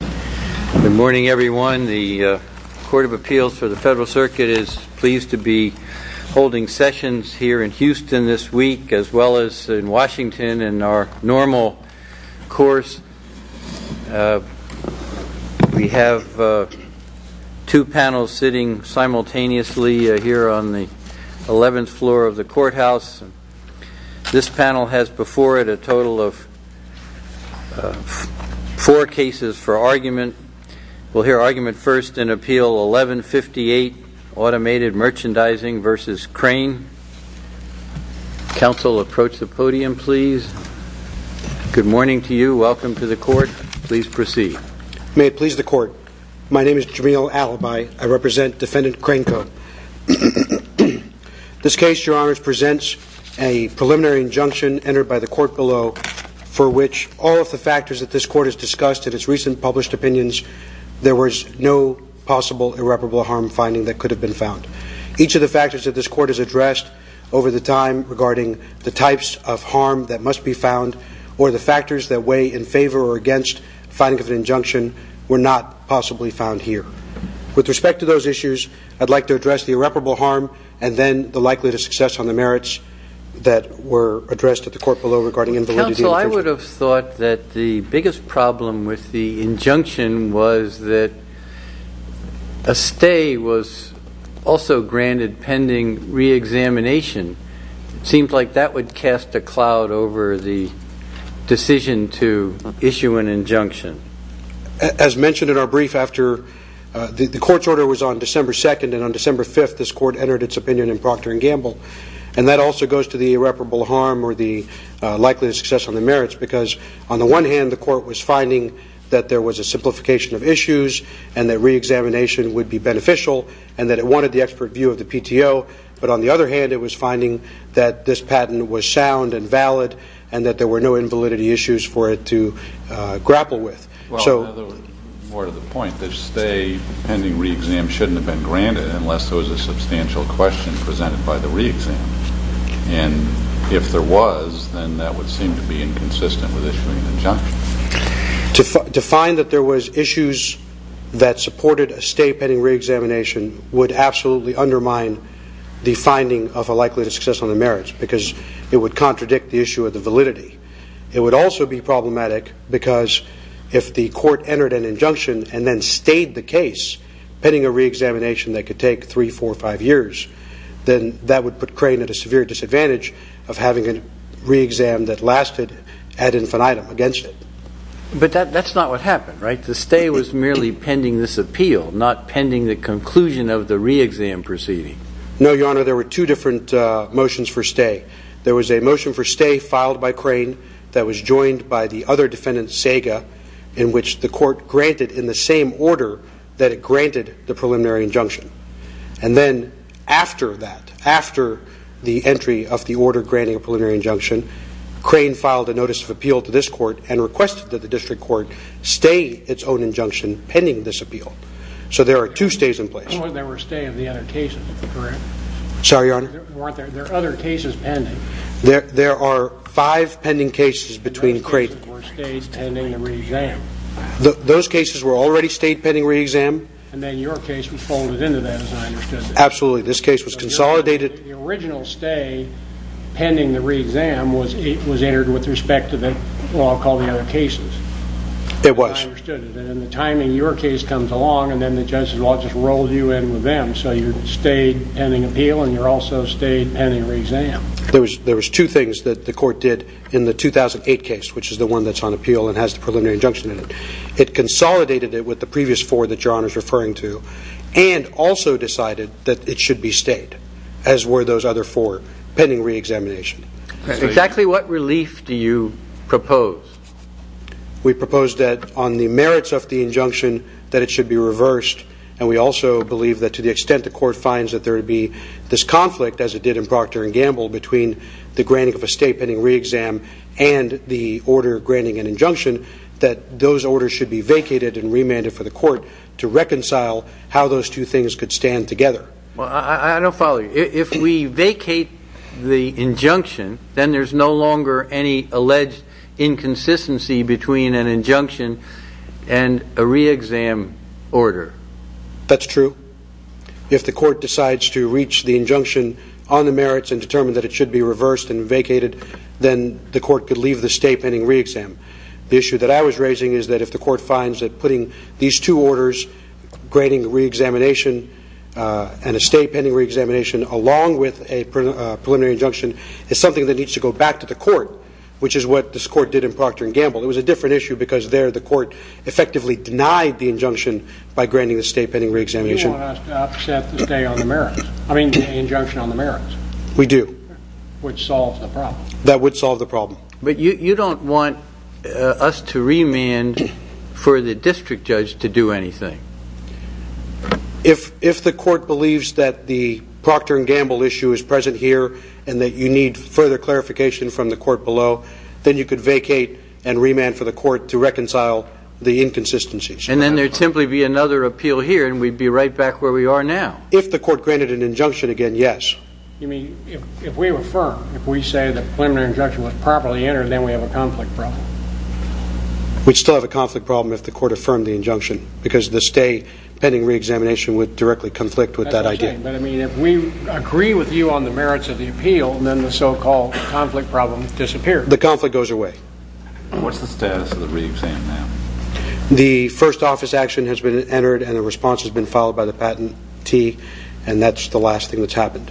Good morning, everyone. The Court of Appeals for the Federal Circuit is pleased to be holding sessions here in Houston this week as well as in Washington in our normal course. We have two panels sitting simultaneously here on the 11th floor of the courthouse. This panel will hear argument first in Appeal 1158, Automated Merchandising v. Crane. Counsel, approach the podium, please. Good morning to you. Welcome to the Court. Please proceed. May it please the Court. My name is Jamil Alibi. I represent Defendant Crane Co. This case, Your Honors, presents a preliminary injunction entered by the Court below for which all of the factors that this Court has discussed in its recent published opinions, there was no possible irreparable harm finding that could have been found. Each of the factors that this Court has addressed over the time regarding the types of harm that must be found or the factors that weigh in favor or against finding of an injunction were not possibly found here. With respect to those issues, I'd like to address the irreparable harm and then the likelihood of success on the merits that were addressed at the Court below regarding the validity of the injunction. Counsel, I would have thought that the biggest problem with the injunction was that a stay was also granted pending reexamination. It seems like that would cast a cloud over the decision to issue an injunction. As mentioned in our brief after the Court's order was on December 2nd and on December 5th, this Court entered its opinion in Procter & Gamble. And that also goes to the irreparable harm or the likelihood of success on the merits because on the one hand, the Court was finding that there was a simplification of issues and that reexamination would be beneficial and that it wanted the expert view of the PTO. But on the other hand, it was finding that this patent was sound and valid and that there were no invalidity issues for it to grapple with. Well, in other words, more to the point, the stay pending reexam shouldn't have been granted unless there was a substantial question presented by the reexam. And if there was, then that would seem to be inconsistent with issuing an injunction. To find that there was issues that supported a stay pending reexamination would absolutely undermine the finding of a likelihood of success on the merits because it would contradict the issue of the validity. It would also be problematic because if the Court entered an reexamination that could take three, four, five years, then that would put Crane at a severe disadvantage of having a reexam that lasted ad infinitum against it. But that's not what happened, right? The stay was merely pending this appeal, not pending the conclusion of the reexam proceeding. No, Your Honor. There were two different motions for stay. There was a motion for stay filed by Crane that was joined by the other defendant, Saga, in which the Court granted in the same order that it granted the preliminary injunction. And then after that, after the entry of the order granting a preliminary injunction, Crane filed a notice of appeal to this Court and requested that the District Court stay its own injunction pending this appeal. So there are two stays in place. There were stay of the other cases, correct? Sorry, Your Honor? There are other cases pending. There are five pending cases between Crane. Those cases were stay pending the reexam. Those cases were already stay pending reexam. And then your case was folded into that, as I understood it. Absolutely. This case was consolidated. The original stay pending the reexam was entered with respect to the law called the other cases. It was. As I understood it. And the timing, your case comes along and then the judge's law just rolls you in with them. So you're stay pending appeal and you're also stay pending reexam. There was two things that the Court did in the 2008 case, which is the one that's on It consolidated it with the previous four that your Honor is referring to and also decided that it should be stayed, as were those other four pending reexamination. Exactly what relief do you propose? We propose that on the merits of the injunction that it should be reversed and we also believe that to the extent the Court finds that there would be this conflict, as it did in Procter and Gamble, between the granting of a stay pending reexam and the order granting an injunction that those orders should be vacated and remanded for the Court to reconcile how those two things could stand together. I don't follow you. If we vacate the injunction, then there's no longer any alleged inconsistency between an injunction and a reexam order. That's true. If the Court decides to reach the injunction on the merits and determine that it should be reversed and vacated, then the Court could leave the stay pending reexam. The issue that I was raising is that if the Court finds that putting these two orders, granting reexamination and a stay pending reexamination along with a preliminary injunction, is something that needs to go back to the Court, which is what this Court did in Procter and Gamble. It was a different issue because there the Court effectively denied the injunction by granting the stay pending reexamination. You want us to upset the stay on the merits, I mean the injunction on the merits. Which solves the problem. That would solve the problem. But you don't want us to remand for the district judge to do anything. If the Court believes that the Procter and Gamble issue is present here and that you need further clarification from the Court below, then you could vacate and remand for the Court to reconcile the inconsistencies. And then there would simply be another appeal here and we'd be right back where we are now. If the Court granted an injunction again, yes. You mean, if we affirm, if we say the preliminary injunction was properly entered, then we have a conflict problem. We'd still have a conflict problem if the Court affirmed the injunction. Because the stay pending reexamination would directly conflict with that idea. But I mean, if we agree with you on the merits of the appeal, then the so-called conflict problem disappears. The conflict goes away. What's the status of the reexamination? The first office action has been entered and a response has been followed by the patentee and that's the last thing that's happened.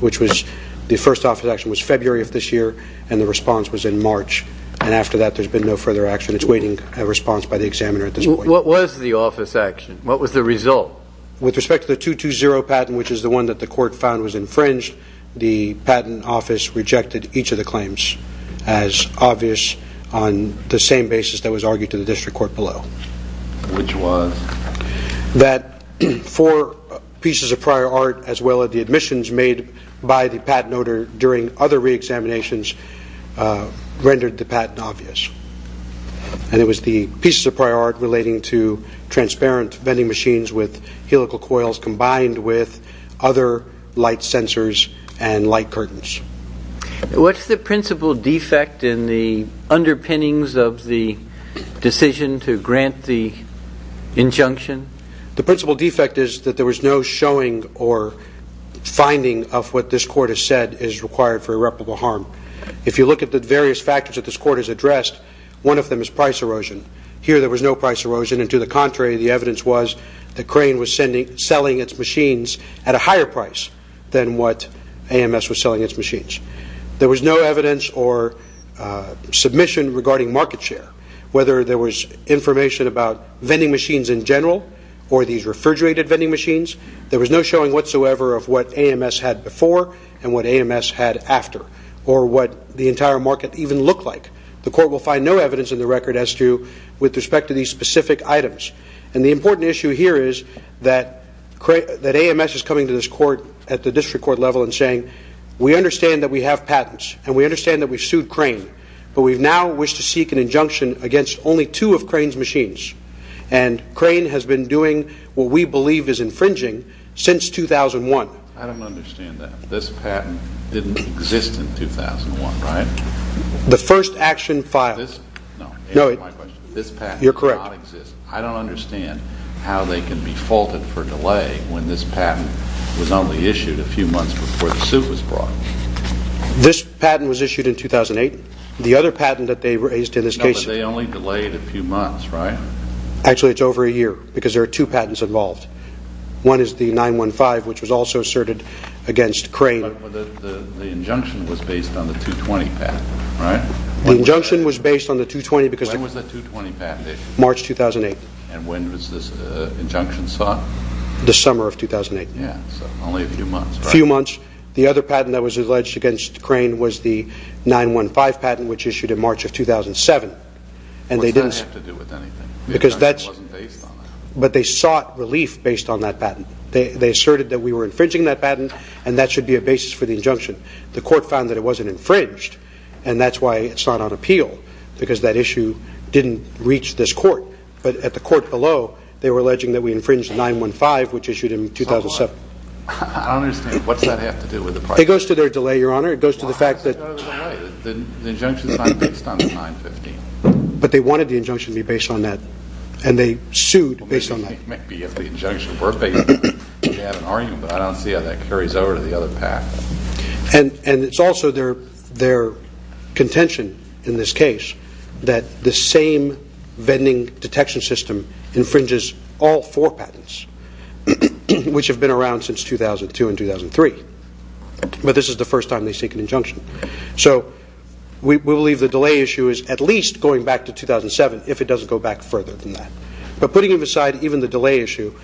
Which was, the first office action was February of this year and the response was in March. And after that there's been no further action. It's waiting for a response by the examiner at this point. What was the office action? What was the result? With respect to the 220 patent, which is the one that the Court found was infringed, the patent office rejected each of the claims as obvious on the same basis that was argued to the District Court below. Which was? That four pieces of prior art as well as the admissions made by the patent owner during other reexaminations rendered the patent obvious. And it was the pieces of prior art relating to transparent vending machines with helical coils combined with other light sensors and light curtains. What's the principal defect in the underpinnings of the decision to grant the injunction? The principal defect is that there was no showing or finding of what this Court has said is required for irreparable harm. If you look at the various factors that this Court has addressed, one of them is price erosion. Here there was no price erosion and to the contrary the evidence was that Crane was selling its machines at a higher price than what AMS was selling its machines. There was no evidence or submission regarding market share. Whether there was information about vending machines in general or these refrigerated vending machines, there was no showing whatsoever of what AMS had before and what AMS had after or what the entire market even looked like. The Court will find no evidence in the record as to with respect to these specific items. And the important issue here is that AMS is coming to this Court at the district court level and saying we understand that we have patents and we understand that we've sued Crane, but we now wish to seek an injunction against only two of Crane's machines. And Crane has been doing what we believe is infringing since 2001. I don't understand that. This patent didn't exist in 2001, right? The first action filed. You're correct. I don't understand how they can be faulted for delay when this patent was only issued a few months before the suit was brought. This patent was issued in 2008. The other patent that they raised in this case... No, but they only delayed a few months, right? Actually it's over a year because there are two patents involved. One is the 915 which was also asserted against Crane. But the injunction was based on the 220 patent, right? The injunction was based on the 220 because... When was the 220 patent issued? March 2008. And when was this injunction sought? The summer of 2008. Yeah, so only a few months, right? A few months. The other patent that was alleged against Crane was the 915 patent which issued in March of 2007. What does that have to do with anything? Because that's... The injunction wasn't based on that. But they sought relief based on that patent. They asserted that we were infringing that patent and that should be a basis for the injunction. The court found that it wasn't infringed and that's why it's not on appeal because that issue didn't reach this court. But at the court below, they were alleging that we infringed the 915 which issued in 2007. I don't understand. What does that have to do with the price? It goes to their delay, Your Honor. It goes to the fact that... The injunction is not based on the 915. But they wanted the injunction to be based on that. And they sued based on that. I think maybe if the injunction were based, they'd have an argument. But I don't see how that carries over to the other path. And it's also their contention in this case that the same vending detection system infringes all four patents which have been around since 2002 and 2003. But this is the first time they seek an injunction. So we believe the delay issue is at least going back to 2007 if it doesn't go back further than that. But putting it aside, even the delay issue,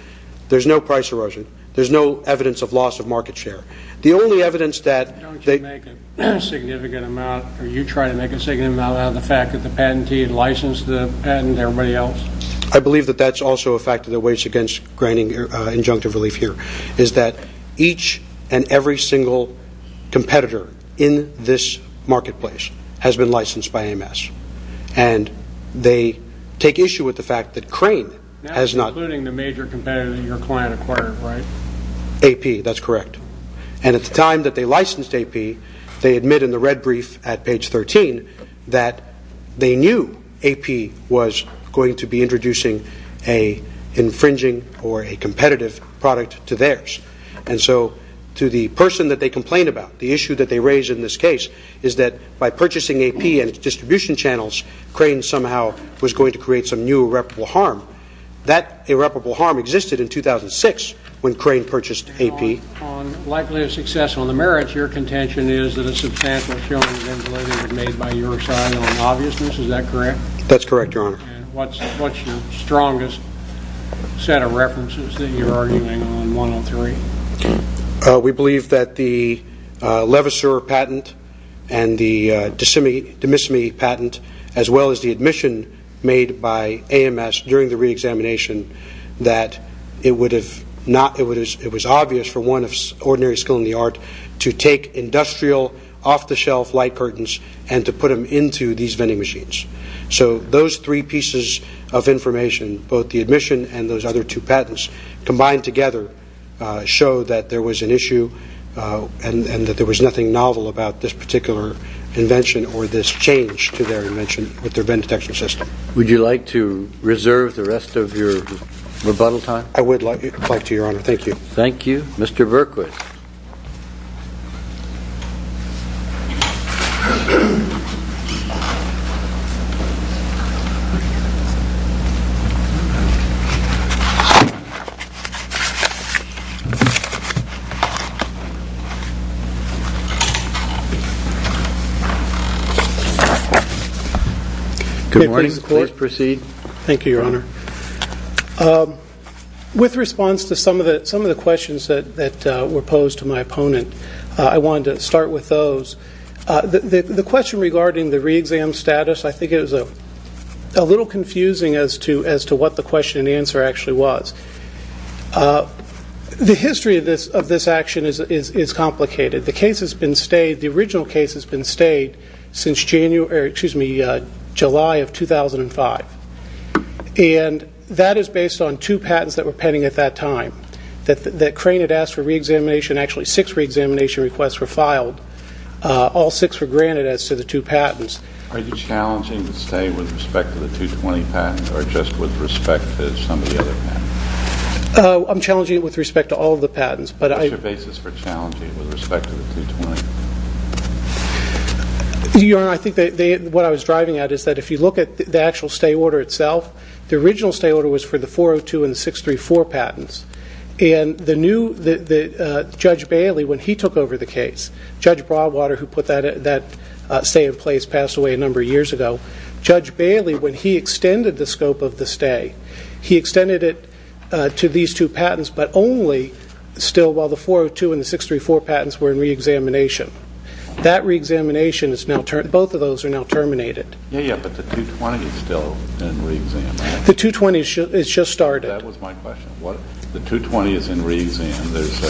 there's no price erosion. There's no evidence of loss of market share. The only evidence that... Don't you make a significant amount, or you try to make a significant amount, out of the fact that the patentee licensed the patent to everybody else? I believe that that's also a factor that weighs against granting injunctive relief here, is that each and every single competitor in this marketplace has been licensed by AMS. And they take issue with the fact that Crane has not... That's including the major competitor that your client acquired, right? AP, that's correct. And at the time that they licensed AP, they admit in the red brief at page 13 that they knew AP was going to be introducing an infringing or a competitive product to theirs. And so to the person that they complain about, the issue that they raise in this case, is that by purchasing AP and its distribution channels, Crane somehow was going to create some new irreparable harm. That irreparable harm existed in 2006 when Crane purchased AP. On likelihood of success, on the merits, your contention is that a substantial show of eventuality was made by your side on obviousness. Is that correct? That's correct, Your Honor. And what's your strongest set of references that you're arguing on 103? We believe that the Levasseur patent and the DeMissimi patent, as well as the admission made by AMS during the reexamination, that it was obvious from one of ordinary skill in the art to take industrial off-the-shelf light curtains and to put them into these vending machines. So those three pieces of information, both the admission and those other two patents, combined together show that there was an issue and that there was nothing novel about this particular invention or this change to their invention with their Venn detection system. Would you like to reserve the rest of your rebuttal time? I would like to, Your Honor. Thank you. Thank you. Mr. Burkwood. Good morning. Please proceed. Thank you, Your Honor. With response to some of the questions that were posed to my opponent, I wanted to start with those. The question regarding the reexam status, I think it was a little confusing as to what the question and answer actually was. The history of this action is complicated. The original case has been stayed since July of 2005, and that is based on two patents that were pending at that time. That Crane had asked for reexamination, actually six reexamination requests were filed. All six were granted as to the two patents. Are you challenging the stay with respect to the 220 patents or just with respect to some of the other patents? I'm challenging it with respect to all of the patents. What's your basis for challenging it with respect to the 220? Your Honor, I think what I was driving at is that if you look at the actual stay order itself, the original stay order was for the 402 and 634 patents. And Judge Bailey, when he took over the case, Judge Broadwater, who put that stay in place, passed away a number of years ago. Judge Bailey, when he extended the scope of the stay, he extended it to these two patents, but only still while the 402 and 634 patents were in reexamination. That reexamination, both of those are now terminated. Yeah, yeah, but the 220 is still in reexamination. The 220 has just started. That was my question. The 220 is in reexamination. There's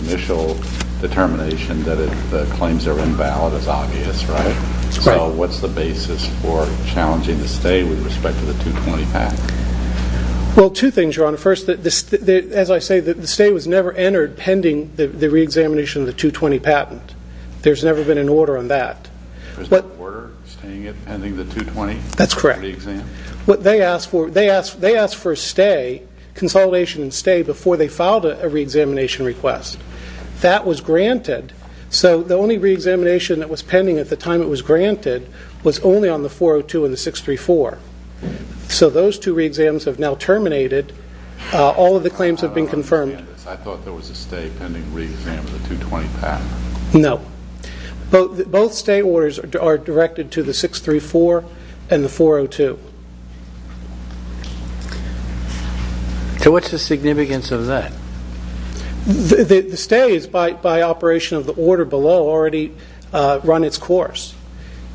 an initial determination that the claims are invalid is obvious, right? Right. So what's the basis for challenging the stay with respect to the 220 patent? Well, two things, Your Honor. First, as I say, the stay was never entered pending the reexamination of the 220 patent. There's never been an order on that. There's no order staying it pending the 220? That's correct. They asked for a stay, consolidation and stay, before they filed a reexamination request. That was granted. So the only reexamination that was pending at the time it was granted was only on the 402 and the 634. So those two reexams have now terminated. All of the claims have been confirmed. I thought there was a stay pending reexamination of the 220 patent. No. Both stay orders are directed to the 634 and the 402. So what's the significance of that? The stays, by operation of the order below, already run its course.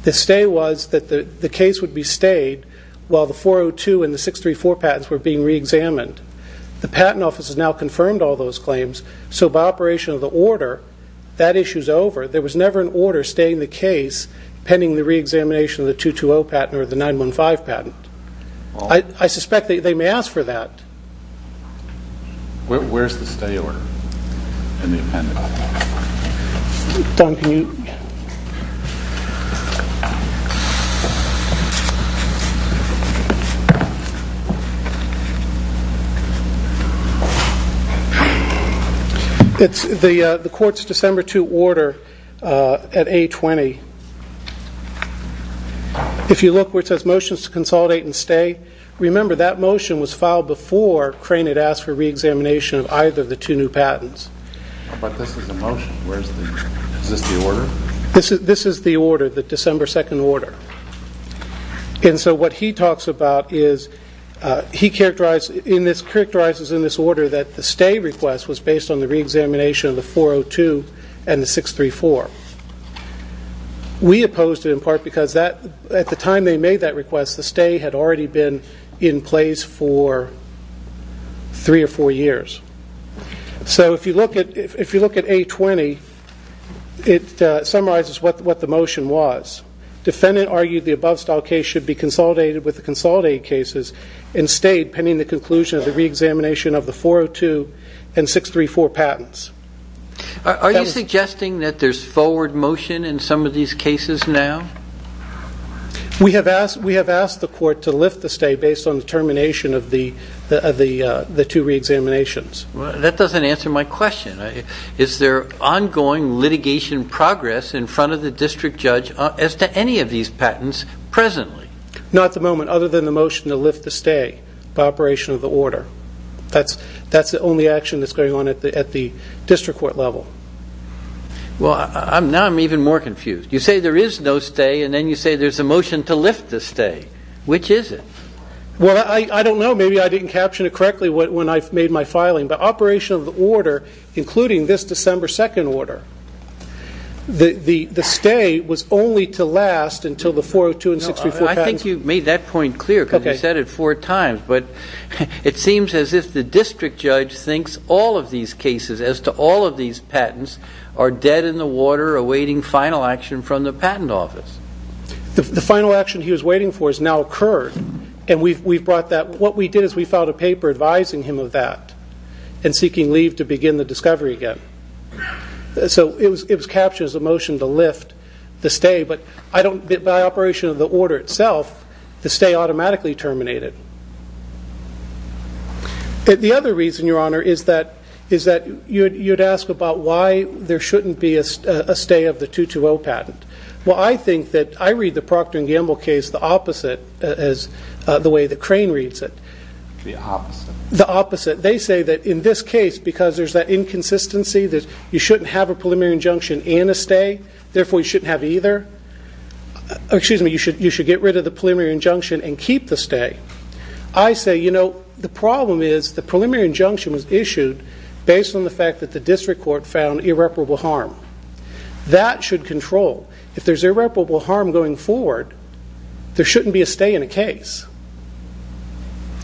The stay was that the case would be stayed while the 402 and the 634 patents were being reexamined. The Patent Office has now confirmed all those claims. So by operation of the order, that issue is over. There was never an order staying the case pending the reexamination of the 220 patent or the 915 patent. I suspect they may ask for that. Where's the stay order in the appendix? It's the court's December 2 order at A20. If you look where it says motions to consolidate and stay, remember that motion was filed before Crane had asked for reexamination of either of the two new patents. But this is a motion. Is this the order? This is the order, the December 2 order. So what he talks about is he characterizes in this order that the stay request was based on the reexamination of the 402 and the 634. We opposed it in part because at the time they made that request, the stay had already been in place for three or four years. So if you look at A20, it summarizes what the motion was. Defendant argued the above style case should be consolidated with the consolidated cases and stayed pending the conclusion of the reexamination of the 402 and 634 patents. Are you suggesting that there's forward motion in some of these cases now? We have asked the court to lift the stay based on the termination of the two reexaminations. That doesn't answer my question. Is there ongoing litigation progress in front of the district judge as to any of these patents presently? Not at the moment, other than the motion to lift the stay by operation of the order. That's the only action that's going on at the district court level. Well, now I'm even more confused. You say there is no stay, and then you say there's a motion to lift the stay. Which is it? Well, I don't know. Maybe I didn't caption it correctly when I made my filing. But operation of the order, including this December 2nd order, the stay was only to last until the 402 and 634 patents. I think you made that point clear because you said it four times. But it seems as if the district judge thinks all of these cases, as to all of these patents, are dead in the water awaiting final action from the patent office. The final action he was waiting for has now occurred, and we've brought that. What we did is we filed a paper advising him of that and seeking leave to begin the discovery again. So it was captured as a motion to lift the stay. But by operation of the order itself, the stay automatically terminated. The other reason, Your Honor, is that you'd ask about why there shouldn't be a stay of the 220 patent. Well, I think that I read the Procter & Gamble case the opposite as the way that Crane reads it. The opposite? The opposite. They say that in this case, because there's that inconsistency, that you shouldn't have a preliminary injunction and a stay, therefore you shouldn't have either. Excuse me, you should get rid of the preliminary injunction and keep the stay. I say, you know, the problem is the preliminary injunction was issued based on the fact that the district court found irreparable harm. That should control. If there's irreparable harm going forward, there shouldn't be a stay in a case.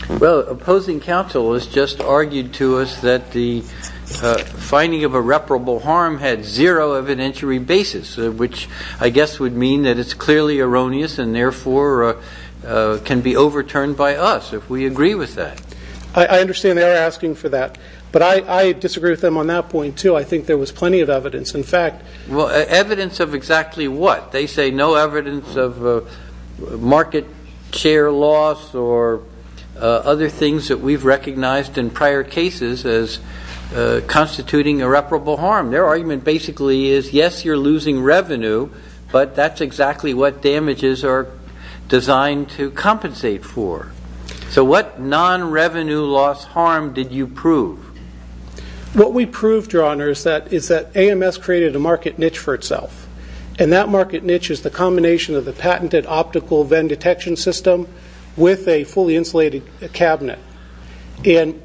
Well, opposing counsel has just argued to us that the finding of irreparable harm had zero evidentiary basis, which I guess would mean that it's clearly erroneous and therefore can be overturned by us if we agree with that. I understand they are asking for that. But I disagree with them on that point, too. I think there was plenty of evidence. Evidence of exactly what? They say no evidence of market share loss or other things that we've recognized in prior cases as constituting irreparable harm. Their argument basically is, yes, you're losing revenue, but that's exactly what damages are designed to compensate for. So what non-revenue loss harm did you prove? What we proved, Your Honor, is that AMS created a market niche for itself. And that market niche is the combination of the patented optical Venn detection system with a fully insulated cabinet. And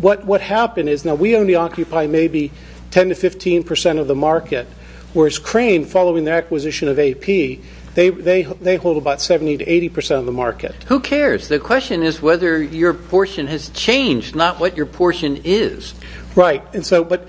what happened is now we only occupy maybe 10% to 15% of the market, whereas Crane, following their acquisition of AP, they hold about 70% to 80% of the market. Who cares? The question is whether your portion has changed, not what your portion is. Right. But,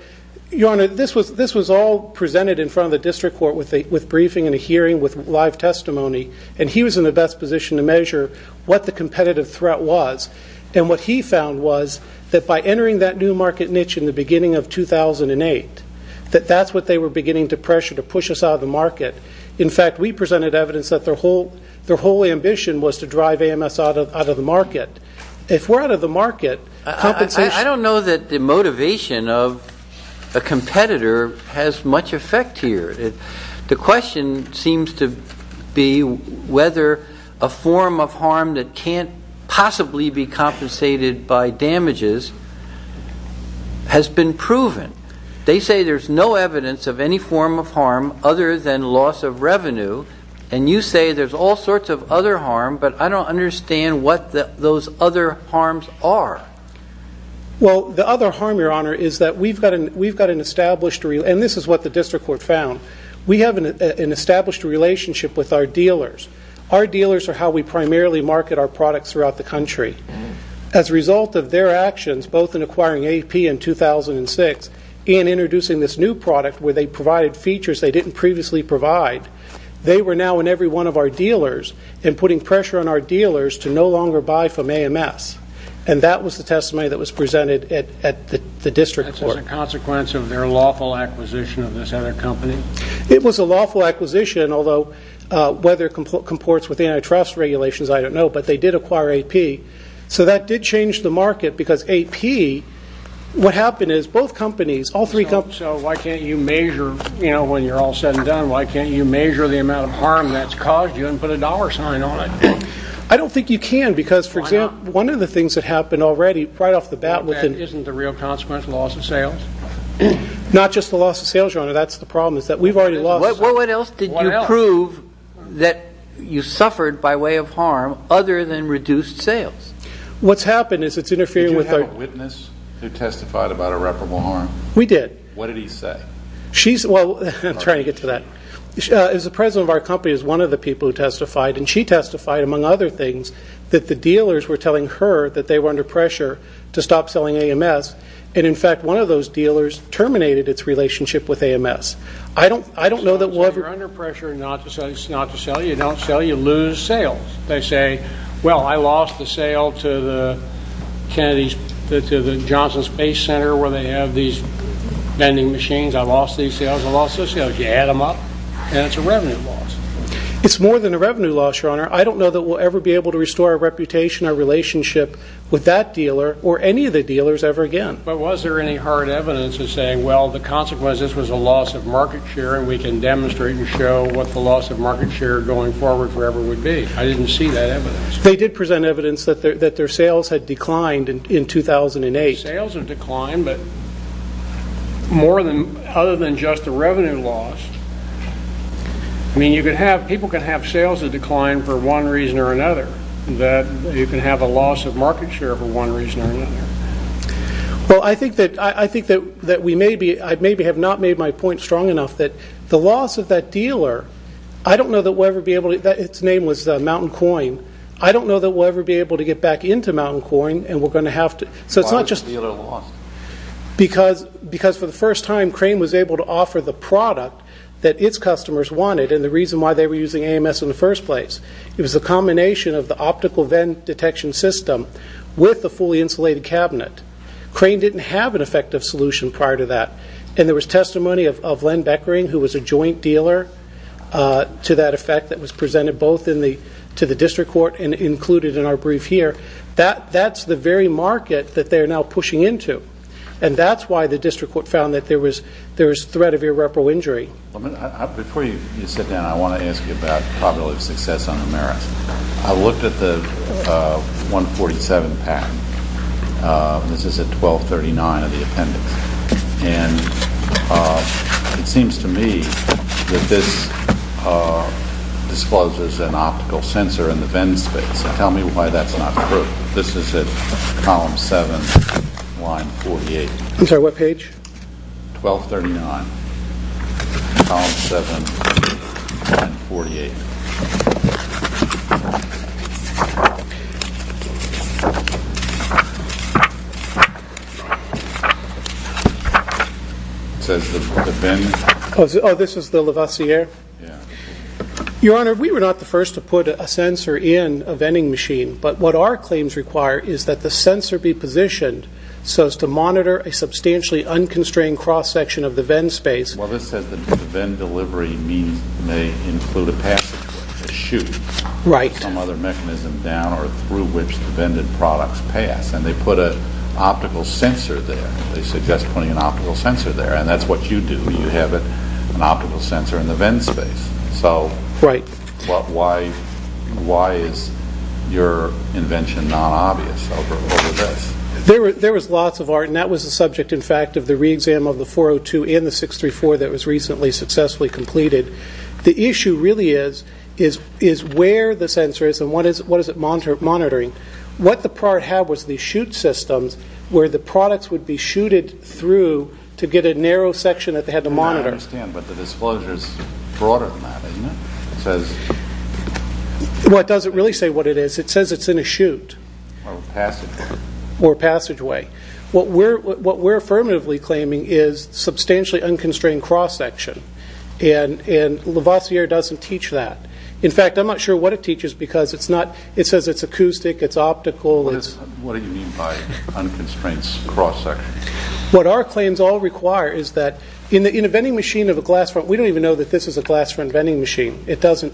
Your Honor, this was all presented in front of the district court with briefing and a hearing with live testimony, and he was in the best position to measure what the competitive threat was. And what he found was that by entering that new market niche in the beginning of 2008, that that's what they were beginning to pressure to push us out of the market. In fact, we presented evidence that their whole ambition was to drive AMS out of the market. If we're out of the market, compensation ---- I don't know that the motivation of a competitor has much effect here. The question seems to be whether a form of harm that can't possibly be compensated by damages has been proven. They say there's no evidence of any form of harm other than loss of revenue, and you say there's all sorts of other harm, but I don't understand what those other harms are. Well, the other harm, Your Honor, is that we've got an established ---- and this is what the district court found. We have an established relationship with our dealers. Our dealers are how we primarily market our products throughout the country. As a result of their actions, both in acquiring AP in 2006 and introducing this new product where they provided features they didn't previously provide, they were now in every one of our dealers and putting pressure on our dealers to no longer buy from AMS. And that was the testimony that was presented at the district court. That's a consequence of their lawful acquisition of this other company? It was a lawful acquisition, although whether it comports with antitrust regulations, I don't know, but they did acquire AP. So that did change the market because AP, what happened is both companies, all three companies ---- So why can't you measure, you know, when you're all said and done, why can't you measure the amount of harm that's caused you and put a dollar sign on it? I don't think you can because, for example ---- One of the things that happened already, right off the bat ---- Isn't the real consequence loss of sales? Not just the loss of sales, Your Honor. That's the problem is that we've already lost sales. Well, what else did you prove that you suffered by way of harm other than reduced sales? What's happened is it's interfering with our ---- Did you have a witness who testified about irreparable harm? We did. What did he say? She's, well, I'm trying to get to that. The president of our company is one of the people who testified, and she testified, among other things, that the dealers were telling her that they were under pressure to stop selling AMS, and, in fact, one of those dealers terminated its relationship with AMS. I don't know that we'll ever ---- So you're under pressure not to sell. You don't sell. You lose sales. They say, well, I lost the sale to the Johnson Space Center where they have these vending machines. I lost these sales. I lost those sales. You add them up, and it's a revenue loss. It's more than a revenue loss, Your Honor. I don't know that we'll ever be able to restore our reputation, our relationship with that dealer or any of the dealers ever again. But was there any hard evidence of saying, well, the consequence of this was a loss of market share, and we can demonstrate and show what the loss of market share going forward forever would be? I didn't see that evidence. They did present evidence that their sales had declined in 2008. Sales have declined, but more than ---- other than just the revenue loss, I mean, people can have sales that decline for one reason or another. You can have a loss of market share for one reason or another. Well, I think that we maybe have not made my point strong enough that the loss of that dealer, I don't know that we'll ever be able to ---- Its name was Mountain Coin. I don't know that we'll ever be able to get back into Mountain Coin, and we're going to have to ---- Why was the dealer lost? Because for the first time, Crane was able to offer the product that its customers wanted and the reason why they were using AMS in the first place. It was a combination of the optical vent detection system with the fully insulated cabinet. Crane didn't have an effective solution prior to that, and there was testimony of Len Beckering who was a joint dealer to that effect that was presented both to the district court and included in our brief here. That's the very market that they're now pushing into, and that's why the district court found that there was threat of irreparable injury. Before you sit down, I want to ask you about probability of success on the merits. I looked at the 147 patent. This is at 1239 of the appendix, and it seems to me that this discloses an optical sensor in the vent space. Tell me why that's not true. This is at column 7, line 48. I'm sorry, what page? 1239, column 7, line 48. It says the vent... Oh, this is the Levasseur? Yeah. Your Honor, we were not the first to put a sensor in a venting machine, but what our claims require is that the sensor be positioned so as to monitor a substantially unconstrained cross-section of the vent space. Well, this says that the vent delivery may include a passage, a chute, or some other mechanism down or through which the vented products pass, and they put an optical sensor there. They suggest putting an optical sensor there, and that's what you do. You have an optical sensor in the vent space. So why is your invention not obvious over this? There was lots of art, and that was the subject, in fact, of the re-exam of the 402 and the 634 that was recently successfully completed. The issue really is where the sensor is and what is it monitoring. What the prior had was these chute systems where the products would be chuted through to get a narrow section that they had to monitor. I don't understand, but the disclosure is broader than that, isn't it? Well, it doesn't really say what it is. It says it's in a chute. Or a passageway. Or a passageway. What we're affirmatively claiming is substantially unconstrained cross-section, and Levasseur doesn't teach that. In fact, I'm not sure what it teaches because it says it's acoustic, it's optical. What do you mean by unconstrained cross-section? What our claims all require is that in a vending machine of a glass front, we don't even know that this is a glass front vending machine. It doesn't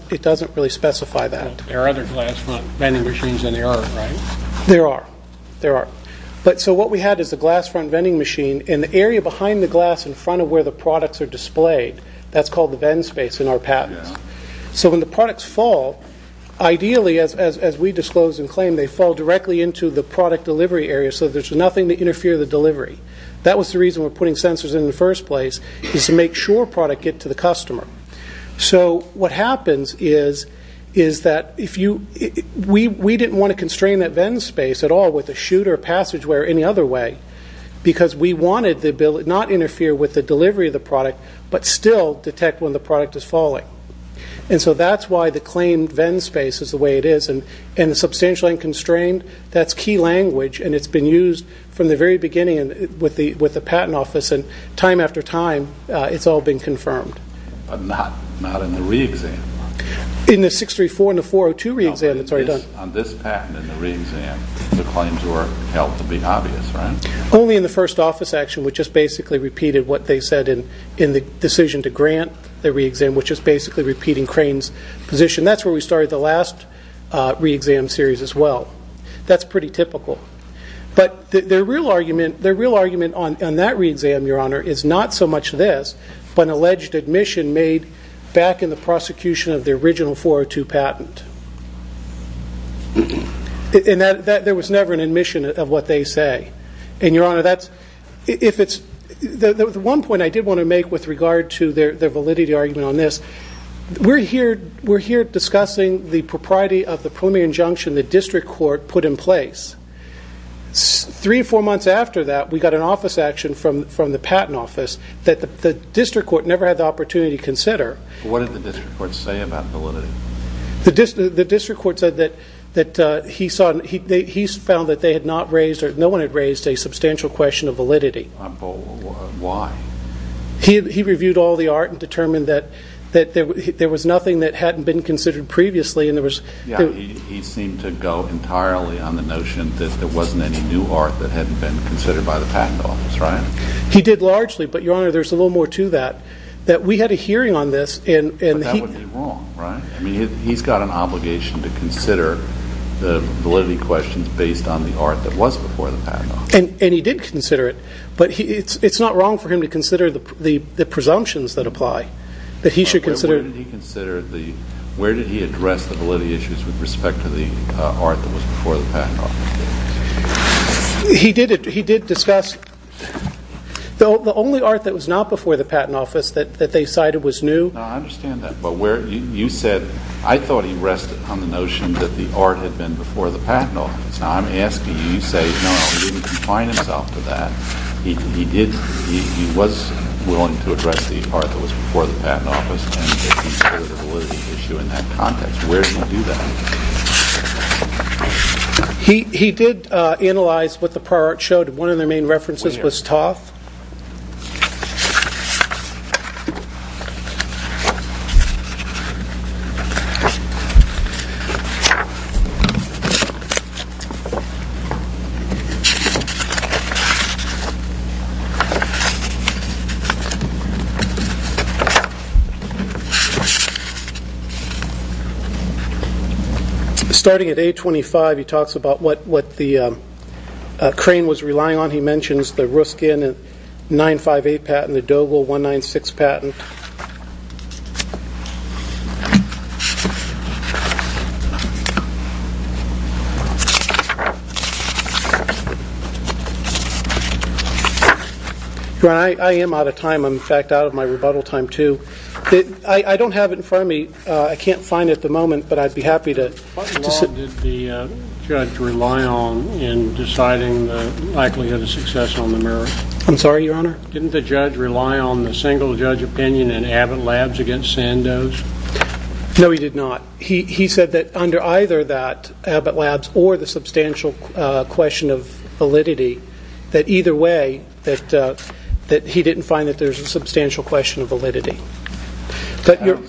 really specify that. There are other glass front vending machines than there are, right? There are. There are. So what we had is a glass front vending machine, and the area behind the glass in front of where the products are displayed, that's called the vent space in our patents. So when the products fall, ideally, as we disclose and claim, they fall directly into the product delivery area so there's nothing to interfere the delivery. That was the reason we're putting sensors in the first place, is to make sure products get to the customer. So what happens is that we didn't want to constrain that vent space at all with a chute or a passageway or any other way because we wanted the ability not to interfere with the delivery of the product but still detect when the product is falling. And so that's why the claim vent space is the way it is. And substantially unconstrained, that's key language, and it's been used from the very beginning with the patent office, and time after time, it's all been confirmed. But not in the re-exam. In the 634 and the 402 re-exam, that's already done. No, but on this patent and the re-exam, the claims were held to be obvious, right? Only in the first office action, which is basically repeated what they said in the decision to grant the re-exam, which is basically repeating Crane's position. That's where we started the last re-exam series as well. That's pretty typical. But their real argument on that re-exam, Your Honor, is not so much this but an alleged admission made back in the prosecution of the original 402 patent. There was never an admission of what they say. And, Your Honor, the one point I did want to make with regard to their validity argument on this, we're here discussing the propriety of the preliminary injunction the district court put in place. Three or four months after that, we got an office action from the patent office that the district court never had the opportunity to consider. What did the district court say about validity? The district court said that he found that they had not raised or no one had raised a substantial question of validity. Why? He reviewed all the art and determined that there was nothing that hadn't been considered previously. He seemed to go entirely on the notion that there wasn't any new art that hadn't been considered by the patent office, right? He did largely, but, Your Honor, there's a little more to that. We had a hearing on this. But that would be wrong, right? He's got an obligation to consider the validity questions based on the art that was before the patent office. And he did consider it, but it's not wrong for him to consider the presumptions that apply. Where did he address the validity issues with respect to the art that was before the patent office? He did discuss the only art that was not before the patent office that they cited was new. No, I understand that. But you said, I thought he rested on the notion that the art had been before the patent office. Now, I'm asking you, you say, no, he didn't confine himself to that. He was willing to address the art that was before the patent office and he considered a validity issue in that context. Where did he do that? He did analyze what the prior art showed. One of their main references was Toth. Starting at A25, he talks about what the crane was relying on. He mentions the Ruskin 958 patent, the Doble 196 patent. I am out of time. I'm, in fact, out of my rebuttal time, too. I don't have it in front of me. I can't find it at the moment, but I'd be happy to. I'm sorry, Your Honor. No, he did not. He said that under either that, Abbott Labs or the substantial question of validity, that either way that he didn't find that there's a substantial question of validity. I don't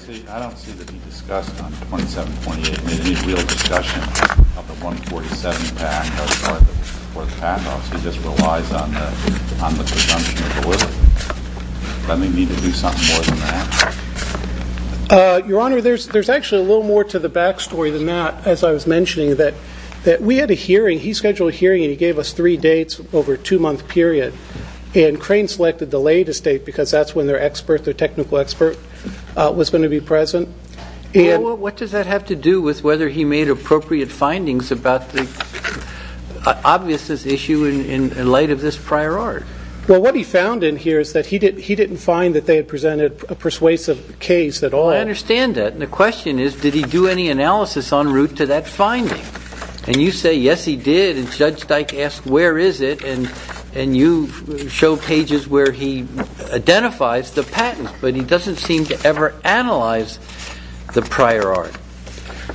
see that he discussed on 2728. I mean, any real discussion of the 2047 patent or the patent office, he just relies on the presumption of validity. Does that make me to do something more than that? Your Honor, there's actually a little more to the back story than that. As I was mentioning, that we had a hearing. He scheduled a hearing and he gave us three dates over a two-month period. And crane selected the latest date because that's when their expert, their technical expert, was going to be present. Well, what does that have to do with whether he made appropriate findings about the obviousness issue in light of this prior art? Well, what he found in here is that he didn't find that they had presented a persuasive case at all. I understand that. And the question is, did he do any analysis en route to that finding? And you say, yes, he did. And Judge Dyke asked, where is it? And you show pages where he identifies the patents, but he doesn't seem to ever analyze the prior art.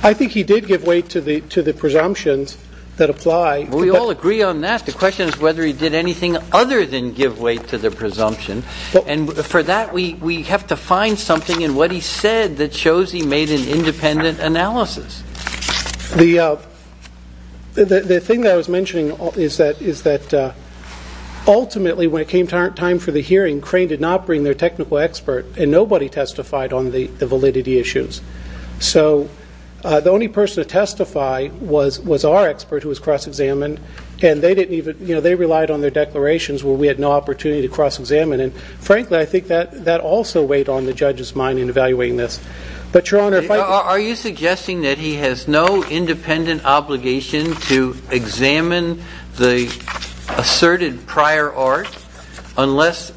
I think he did give weight to the presumptions that apply. We all agree on that. The question is whether he did anything other than give weight to the presumption. And for that, we have to find something in what he said that shows he made an independent analysis. The thing that I was mentioning is that ultimately when it came time for the hearing, crane did not bring their technical expert, and nobody testified on the validity issues. So the only person to testify was our expert who was cross-examined, and they relied on their declarations where we had no opportunity to cross-examine. And frankly, I think that also weighed on the judge's mind in evaluating this. Are you suggesting that he has no independent obligation to examine the asserted prior art unless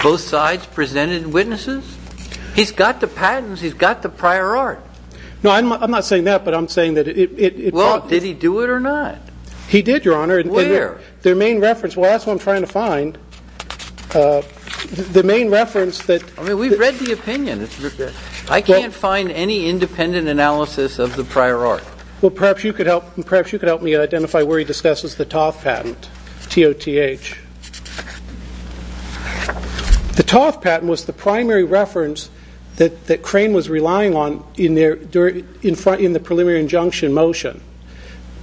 both sides presented witnesses? He's got the patents. He's got the prior art. No, I'm not saying that, but I'm saying that it probably was. Well, did he do it or not? He did, Your Honor. Where? Their main reference. Well, that's what I'm trying to find. We've read the opinion. I can't find any independent analysis of the prior art. Well, perhaps you could help me identify where he discusses the Toth patent, T-O-T-H. The Toth patent was the primary reference that crane was relying on in the preliminary injunction motion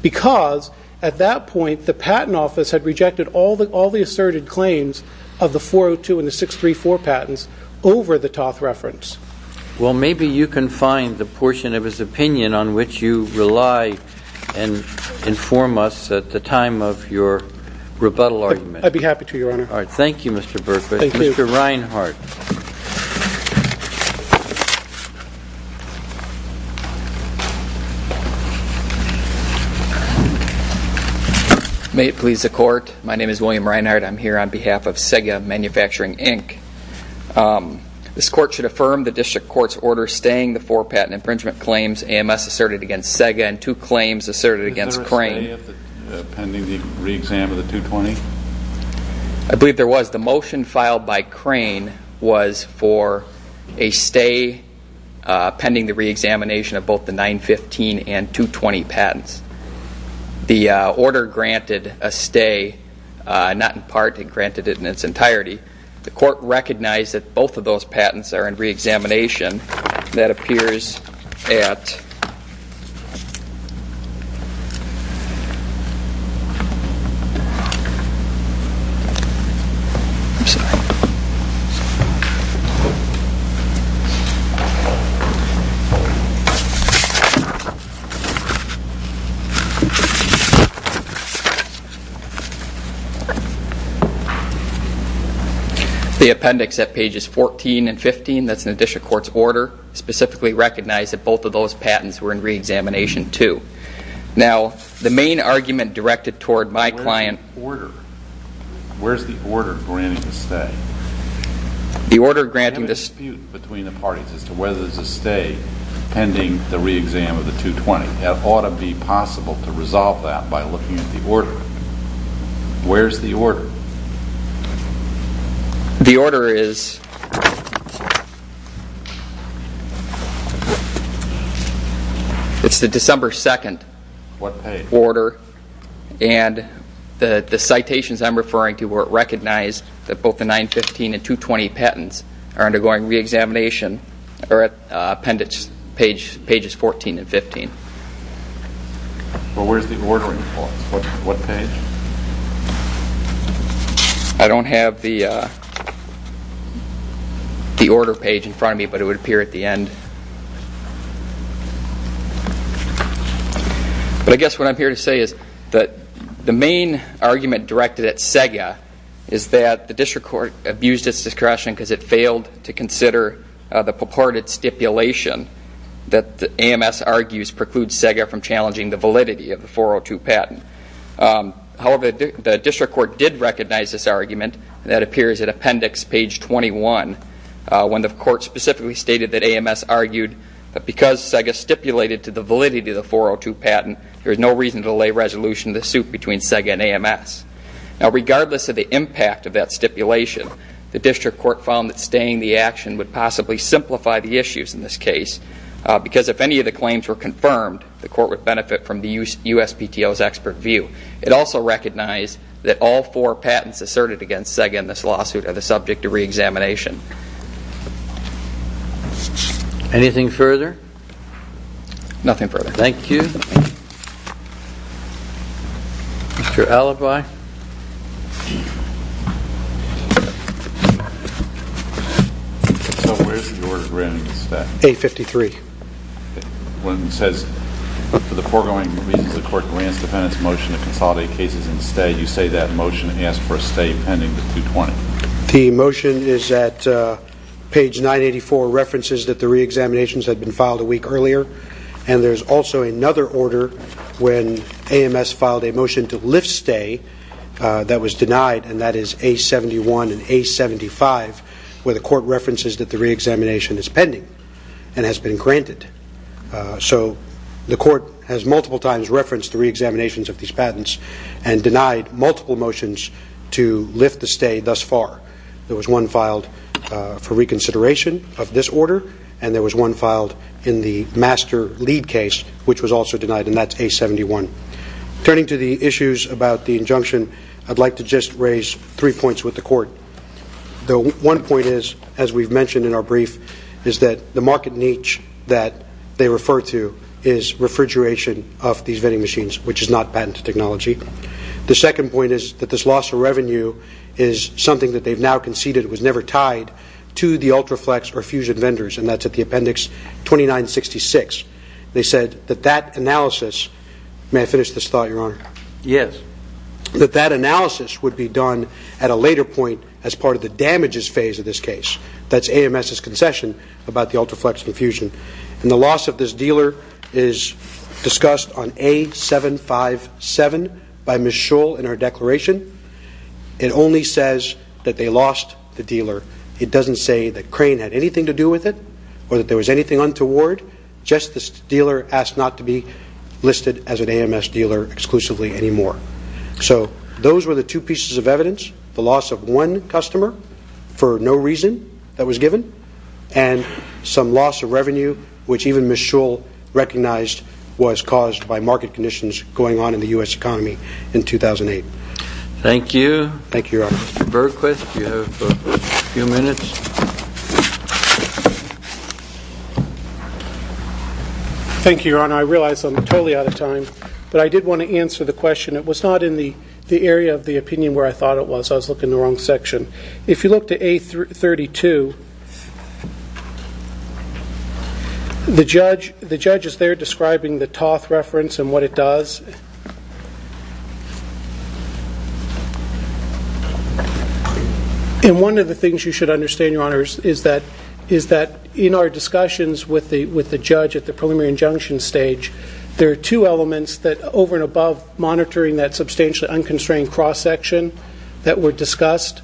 because, at that point, the Patent Office had rejected all the asserted claims of the 402 and the 634 patents over the Toth reference. Well, maybe you can find the portion of his opinion on which you rely and inform us at the time of your rebuttal argument. I'd be happy to, Your Honor. All right. Thank you, Mr. Berkowitz. Thank you. Mr. Reinhart. May it please the Court. My name is William Reinhart. I'm here on behalf of Sega Manufacturing, Inc. This Court should affirm the District Court's order staying the four patent infringement claims AMS asserted against Sega and two claims asserted against Crane. Is there a stay pending the reexamination of the 220? I believe there was. The motion filed by Crane was for a stay pending the reexamination of both the 915 and 220 patents. The order granted a stay, not in part. It granted it in its entirety. The Court recognized that both of those patents are in reexamination. That appears at the appendix at pages 14 and 15. That's in the District Court's order. Specifically recognized that both of those patents were in reexamination too. Now, the main argument directed toward my client Where's the order? Where's the order granting a stay? The order granting this There's been a dispute between the parties as to whether there's a stay pending the reexam of the 220. It ought to be possible to resolve that by looking at the order. Where's the order? The order is It's the December 2nd order. What page? And the citations I'm referring to were recognized that both the 915 and 220 patents are undergoing reexamination are at appendix pages 14 and 15. Well, where's the ordering clause? What page? I don't have the order page in front of me but it would appear at the end. But I guess what I'm here to say is that the main argument directed at SEGA is that the District Court abused its discretion because it failed to consider the purported stipulation that the AMS argues precludes SEGA from challenging the validity of the 402 patent. However, the District Court did recognize this argument and that appears at appendix page 21 when the court specifically stated that AMS argued that because SEGA stipulated to the validity of the 402 patent there is no reason to delay resolution of the suit between SEGA and AMS. Now regardless of the impact of that stipulation the District Court found that staying the action would possibly simplify the issues in this case because if any of the claims were confirmed the court would benefit from the USPTO's expert view. It also recognized that all four patents asserted against SEGA in this lawsuit are the subject of reexamination. Anything further? Nothing further. Thank you. Mr. Alibi. So where is the order written in this statute? A53. When it says for the foregoing reasons the court grants the defendant's motion to consolidate cases and stay you say that motion asks for a stay pending to 220. The motion is at page 984 references that the reexaminations had been filed a week earlier and there's also another order when AMS filed a motion to lift stay that was denied and that is A71 and A75 where the court references that the reexamination is pending and has been granted. So the court has multiple times referenced the reexaminations of these patents and denied multiple motions to lift the stay thus far. There was one filed for reconsideration of this order and there was one filed in the master lead case which was also denied and that's A71. Turning to the issues about the injunction I'd like to just raise three points with the court. The one point is, as we've mentioned in our brief is that the market niche that they refer to is refrigeration of these vending machines which is not patent technology. The second point is that this loss of revenue is something that they've now conceded was never tied to the Ultraflex or Fusion vendors and that's at the appendix 2966. They said that that analysis may I finish this thought, your honor? Yes. That that analysis would be done at a later point as part of the damages phase of this case. That's AMS's concession about the Ultraflex and Fusion. And the loss of this dealer is discussed on A757 by Ms. Shull in her declaration. It only says that they lost the dealer. It doesn't say that Crane had anything to do with it or that there was anything untoward. Just this dealer asked not to be listed as an AMS dealer exclusively anymore. So those were the two pieces of evidence. The loss of one customer for no reason that was given and some loss of revenue which even Ms. Shull recognized was caused by market conditions going on in the U.S. economy in 2008. Thank you. Thank you, your honor. Mr. Bergquist, you have a few minutes. Thank you, your honor. I realize I'm totally out of time, but I did want to answer the question. It was not in the area of the opinion where I thought it was. I was looking in the wrong section. If you look to A32, the judge is there describing the Toth reference and what it does. And one of the things you should understand, your honor, is that in our discussions with the judge at the preliminary injunction stage, there are two elements that over and above monitoring that substantially unconstrained cross-section that were discussed.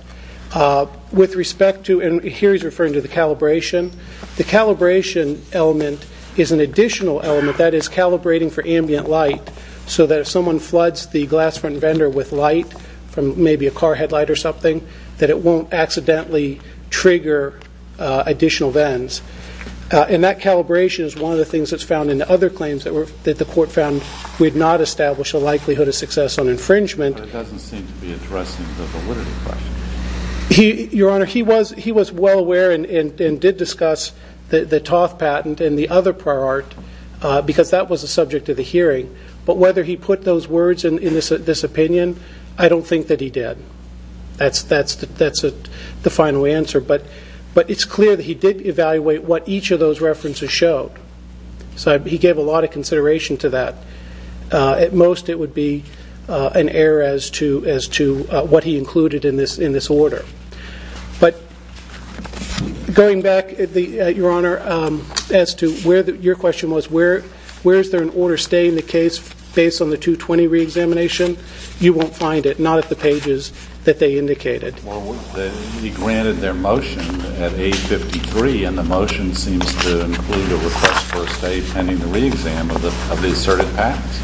Here he's referring to the calibration. The calibration element is an additional element, that is calibrating for ambient light so that if someone floods the glass front vendor with light from maybe a car headlight or something, that it won't accidentally trigger additional vans. And that calibration is one of the things that's found in the other claims that the court found would not establish a likelihood of success on infringement. But it doesn't seem to be addressing the validity question. Your honor, he was well aware and did discuss the Toth patent and the other prior art, because that was the subject of the hearing. But whether he put those words in this opinion, I don't think that he did. That's the final answer. But it's clear that he did evaluate what each of those references showed. So he gave a lot of consideration to that. At most, it would be an error as to what he included in this order. But going back, your honor, as to where your question was, where is there an order stay in the case based on the 220 reexamination? You won't find it, not at the pages that they indicated. He granted their motion at 8.53, and the motion seems to include a request for a stay pending the reexam of the asserted patents.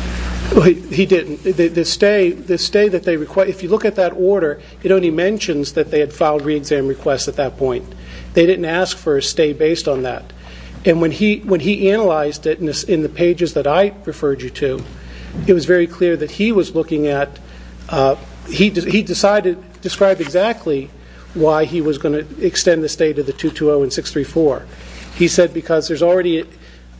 He didn't. The stay that they request, if you look at that order, it only mentions that they had filed reexam requests at that point. They didn't ask for a stay based on that. And when he analyzed it in the pages that I referred you to, it was very clear that he was looking at... He decided to describe exactly why he was going to extend the stay to the 220 and 634. He said because there's already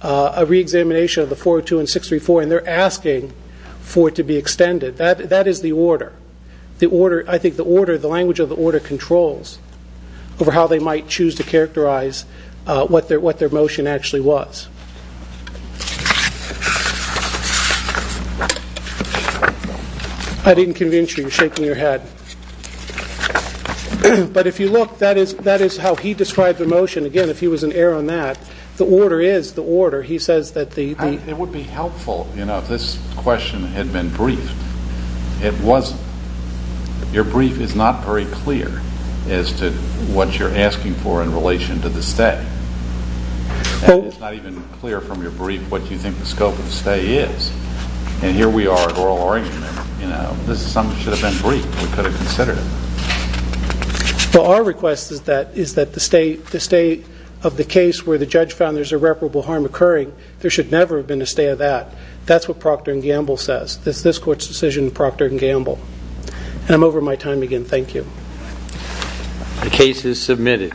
a reexamination of the 402 and 634, and they're asking for it to be extended. That is the order. I think the language of the order controls over how they might choose to characterize what their motion actually was. I didn't convince you. You're shaking your head. But if you look, that is how he described the motion. Again, if he was an heir on that, the order is the order. He says that the... It would be helpful if this question had been briefed. It wasn't. Your brief is not very clear as to what you're asking for in relation to the stay. It's not even clear from your brief what you think the scope of the stay is. And here we are at oral argument. This assumption should have been briefed. We could have considered it. Well, our request is that the stay of the case where the judge found there's irreparable harm occurring, there should never have been a stay of that. That's what Procter & Gamble says. That's this Court's decision in Procter & Gamble. And I'm over my time again. Thank you. The case is submitted.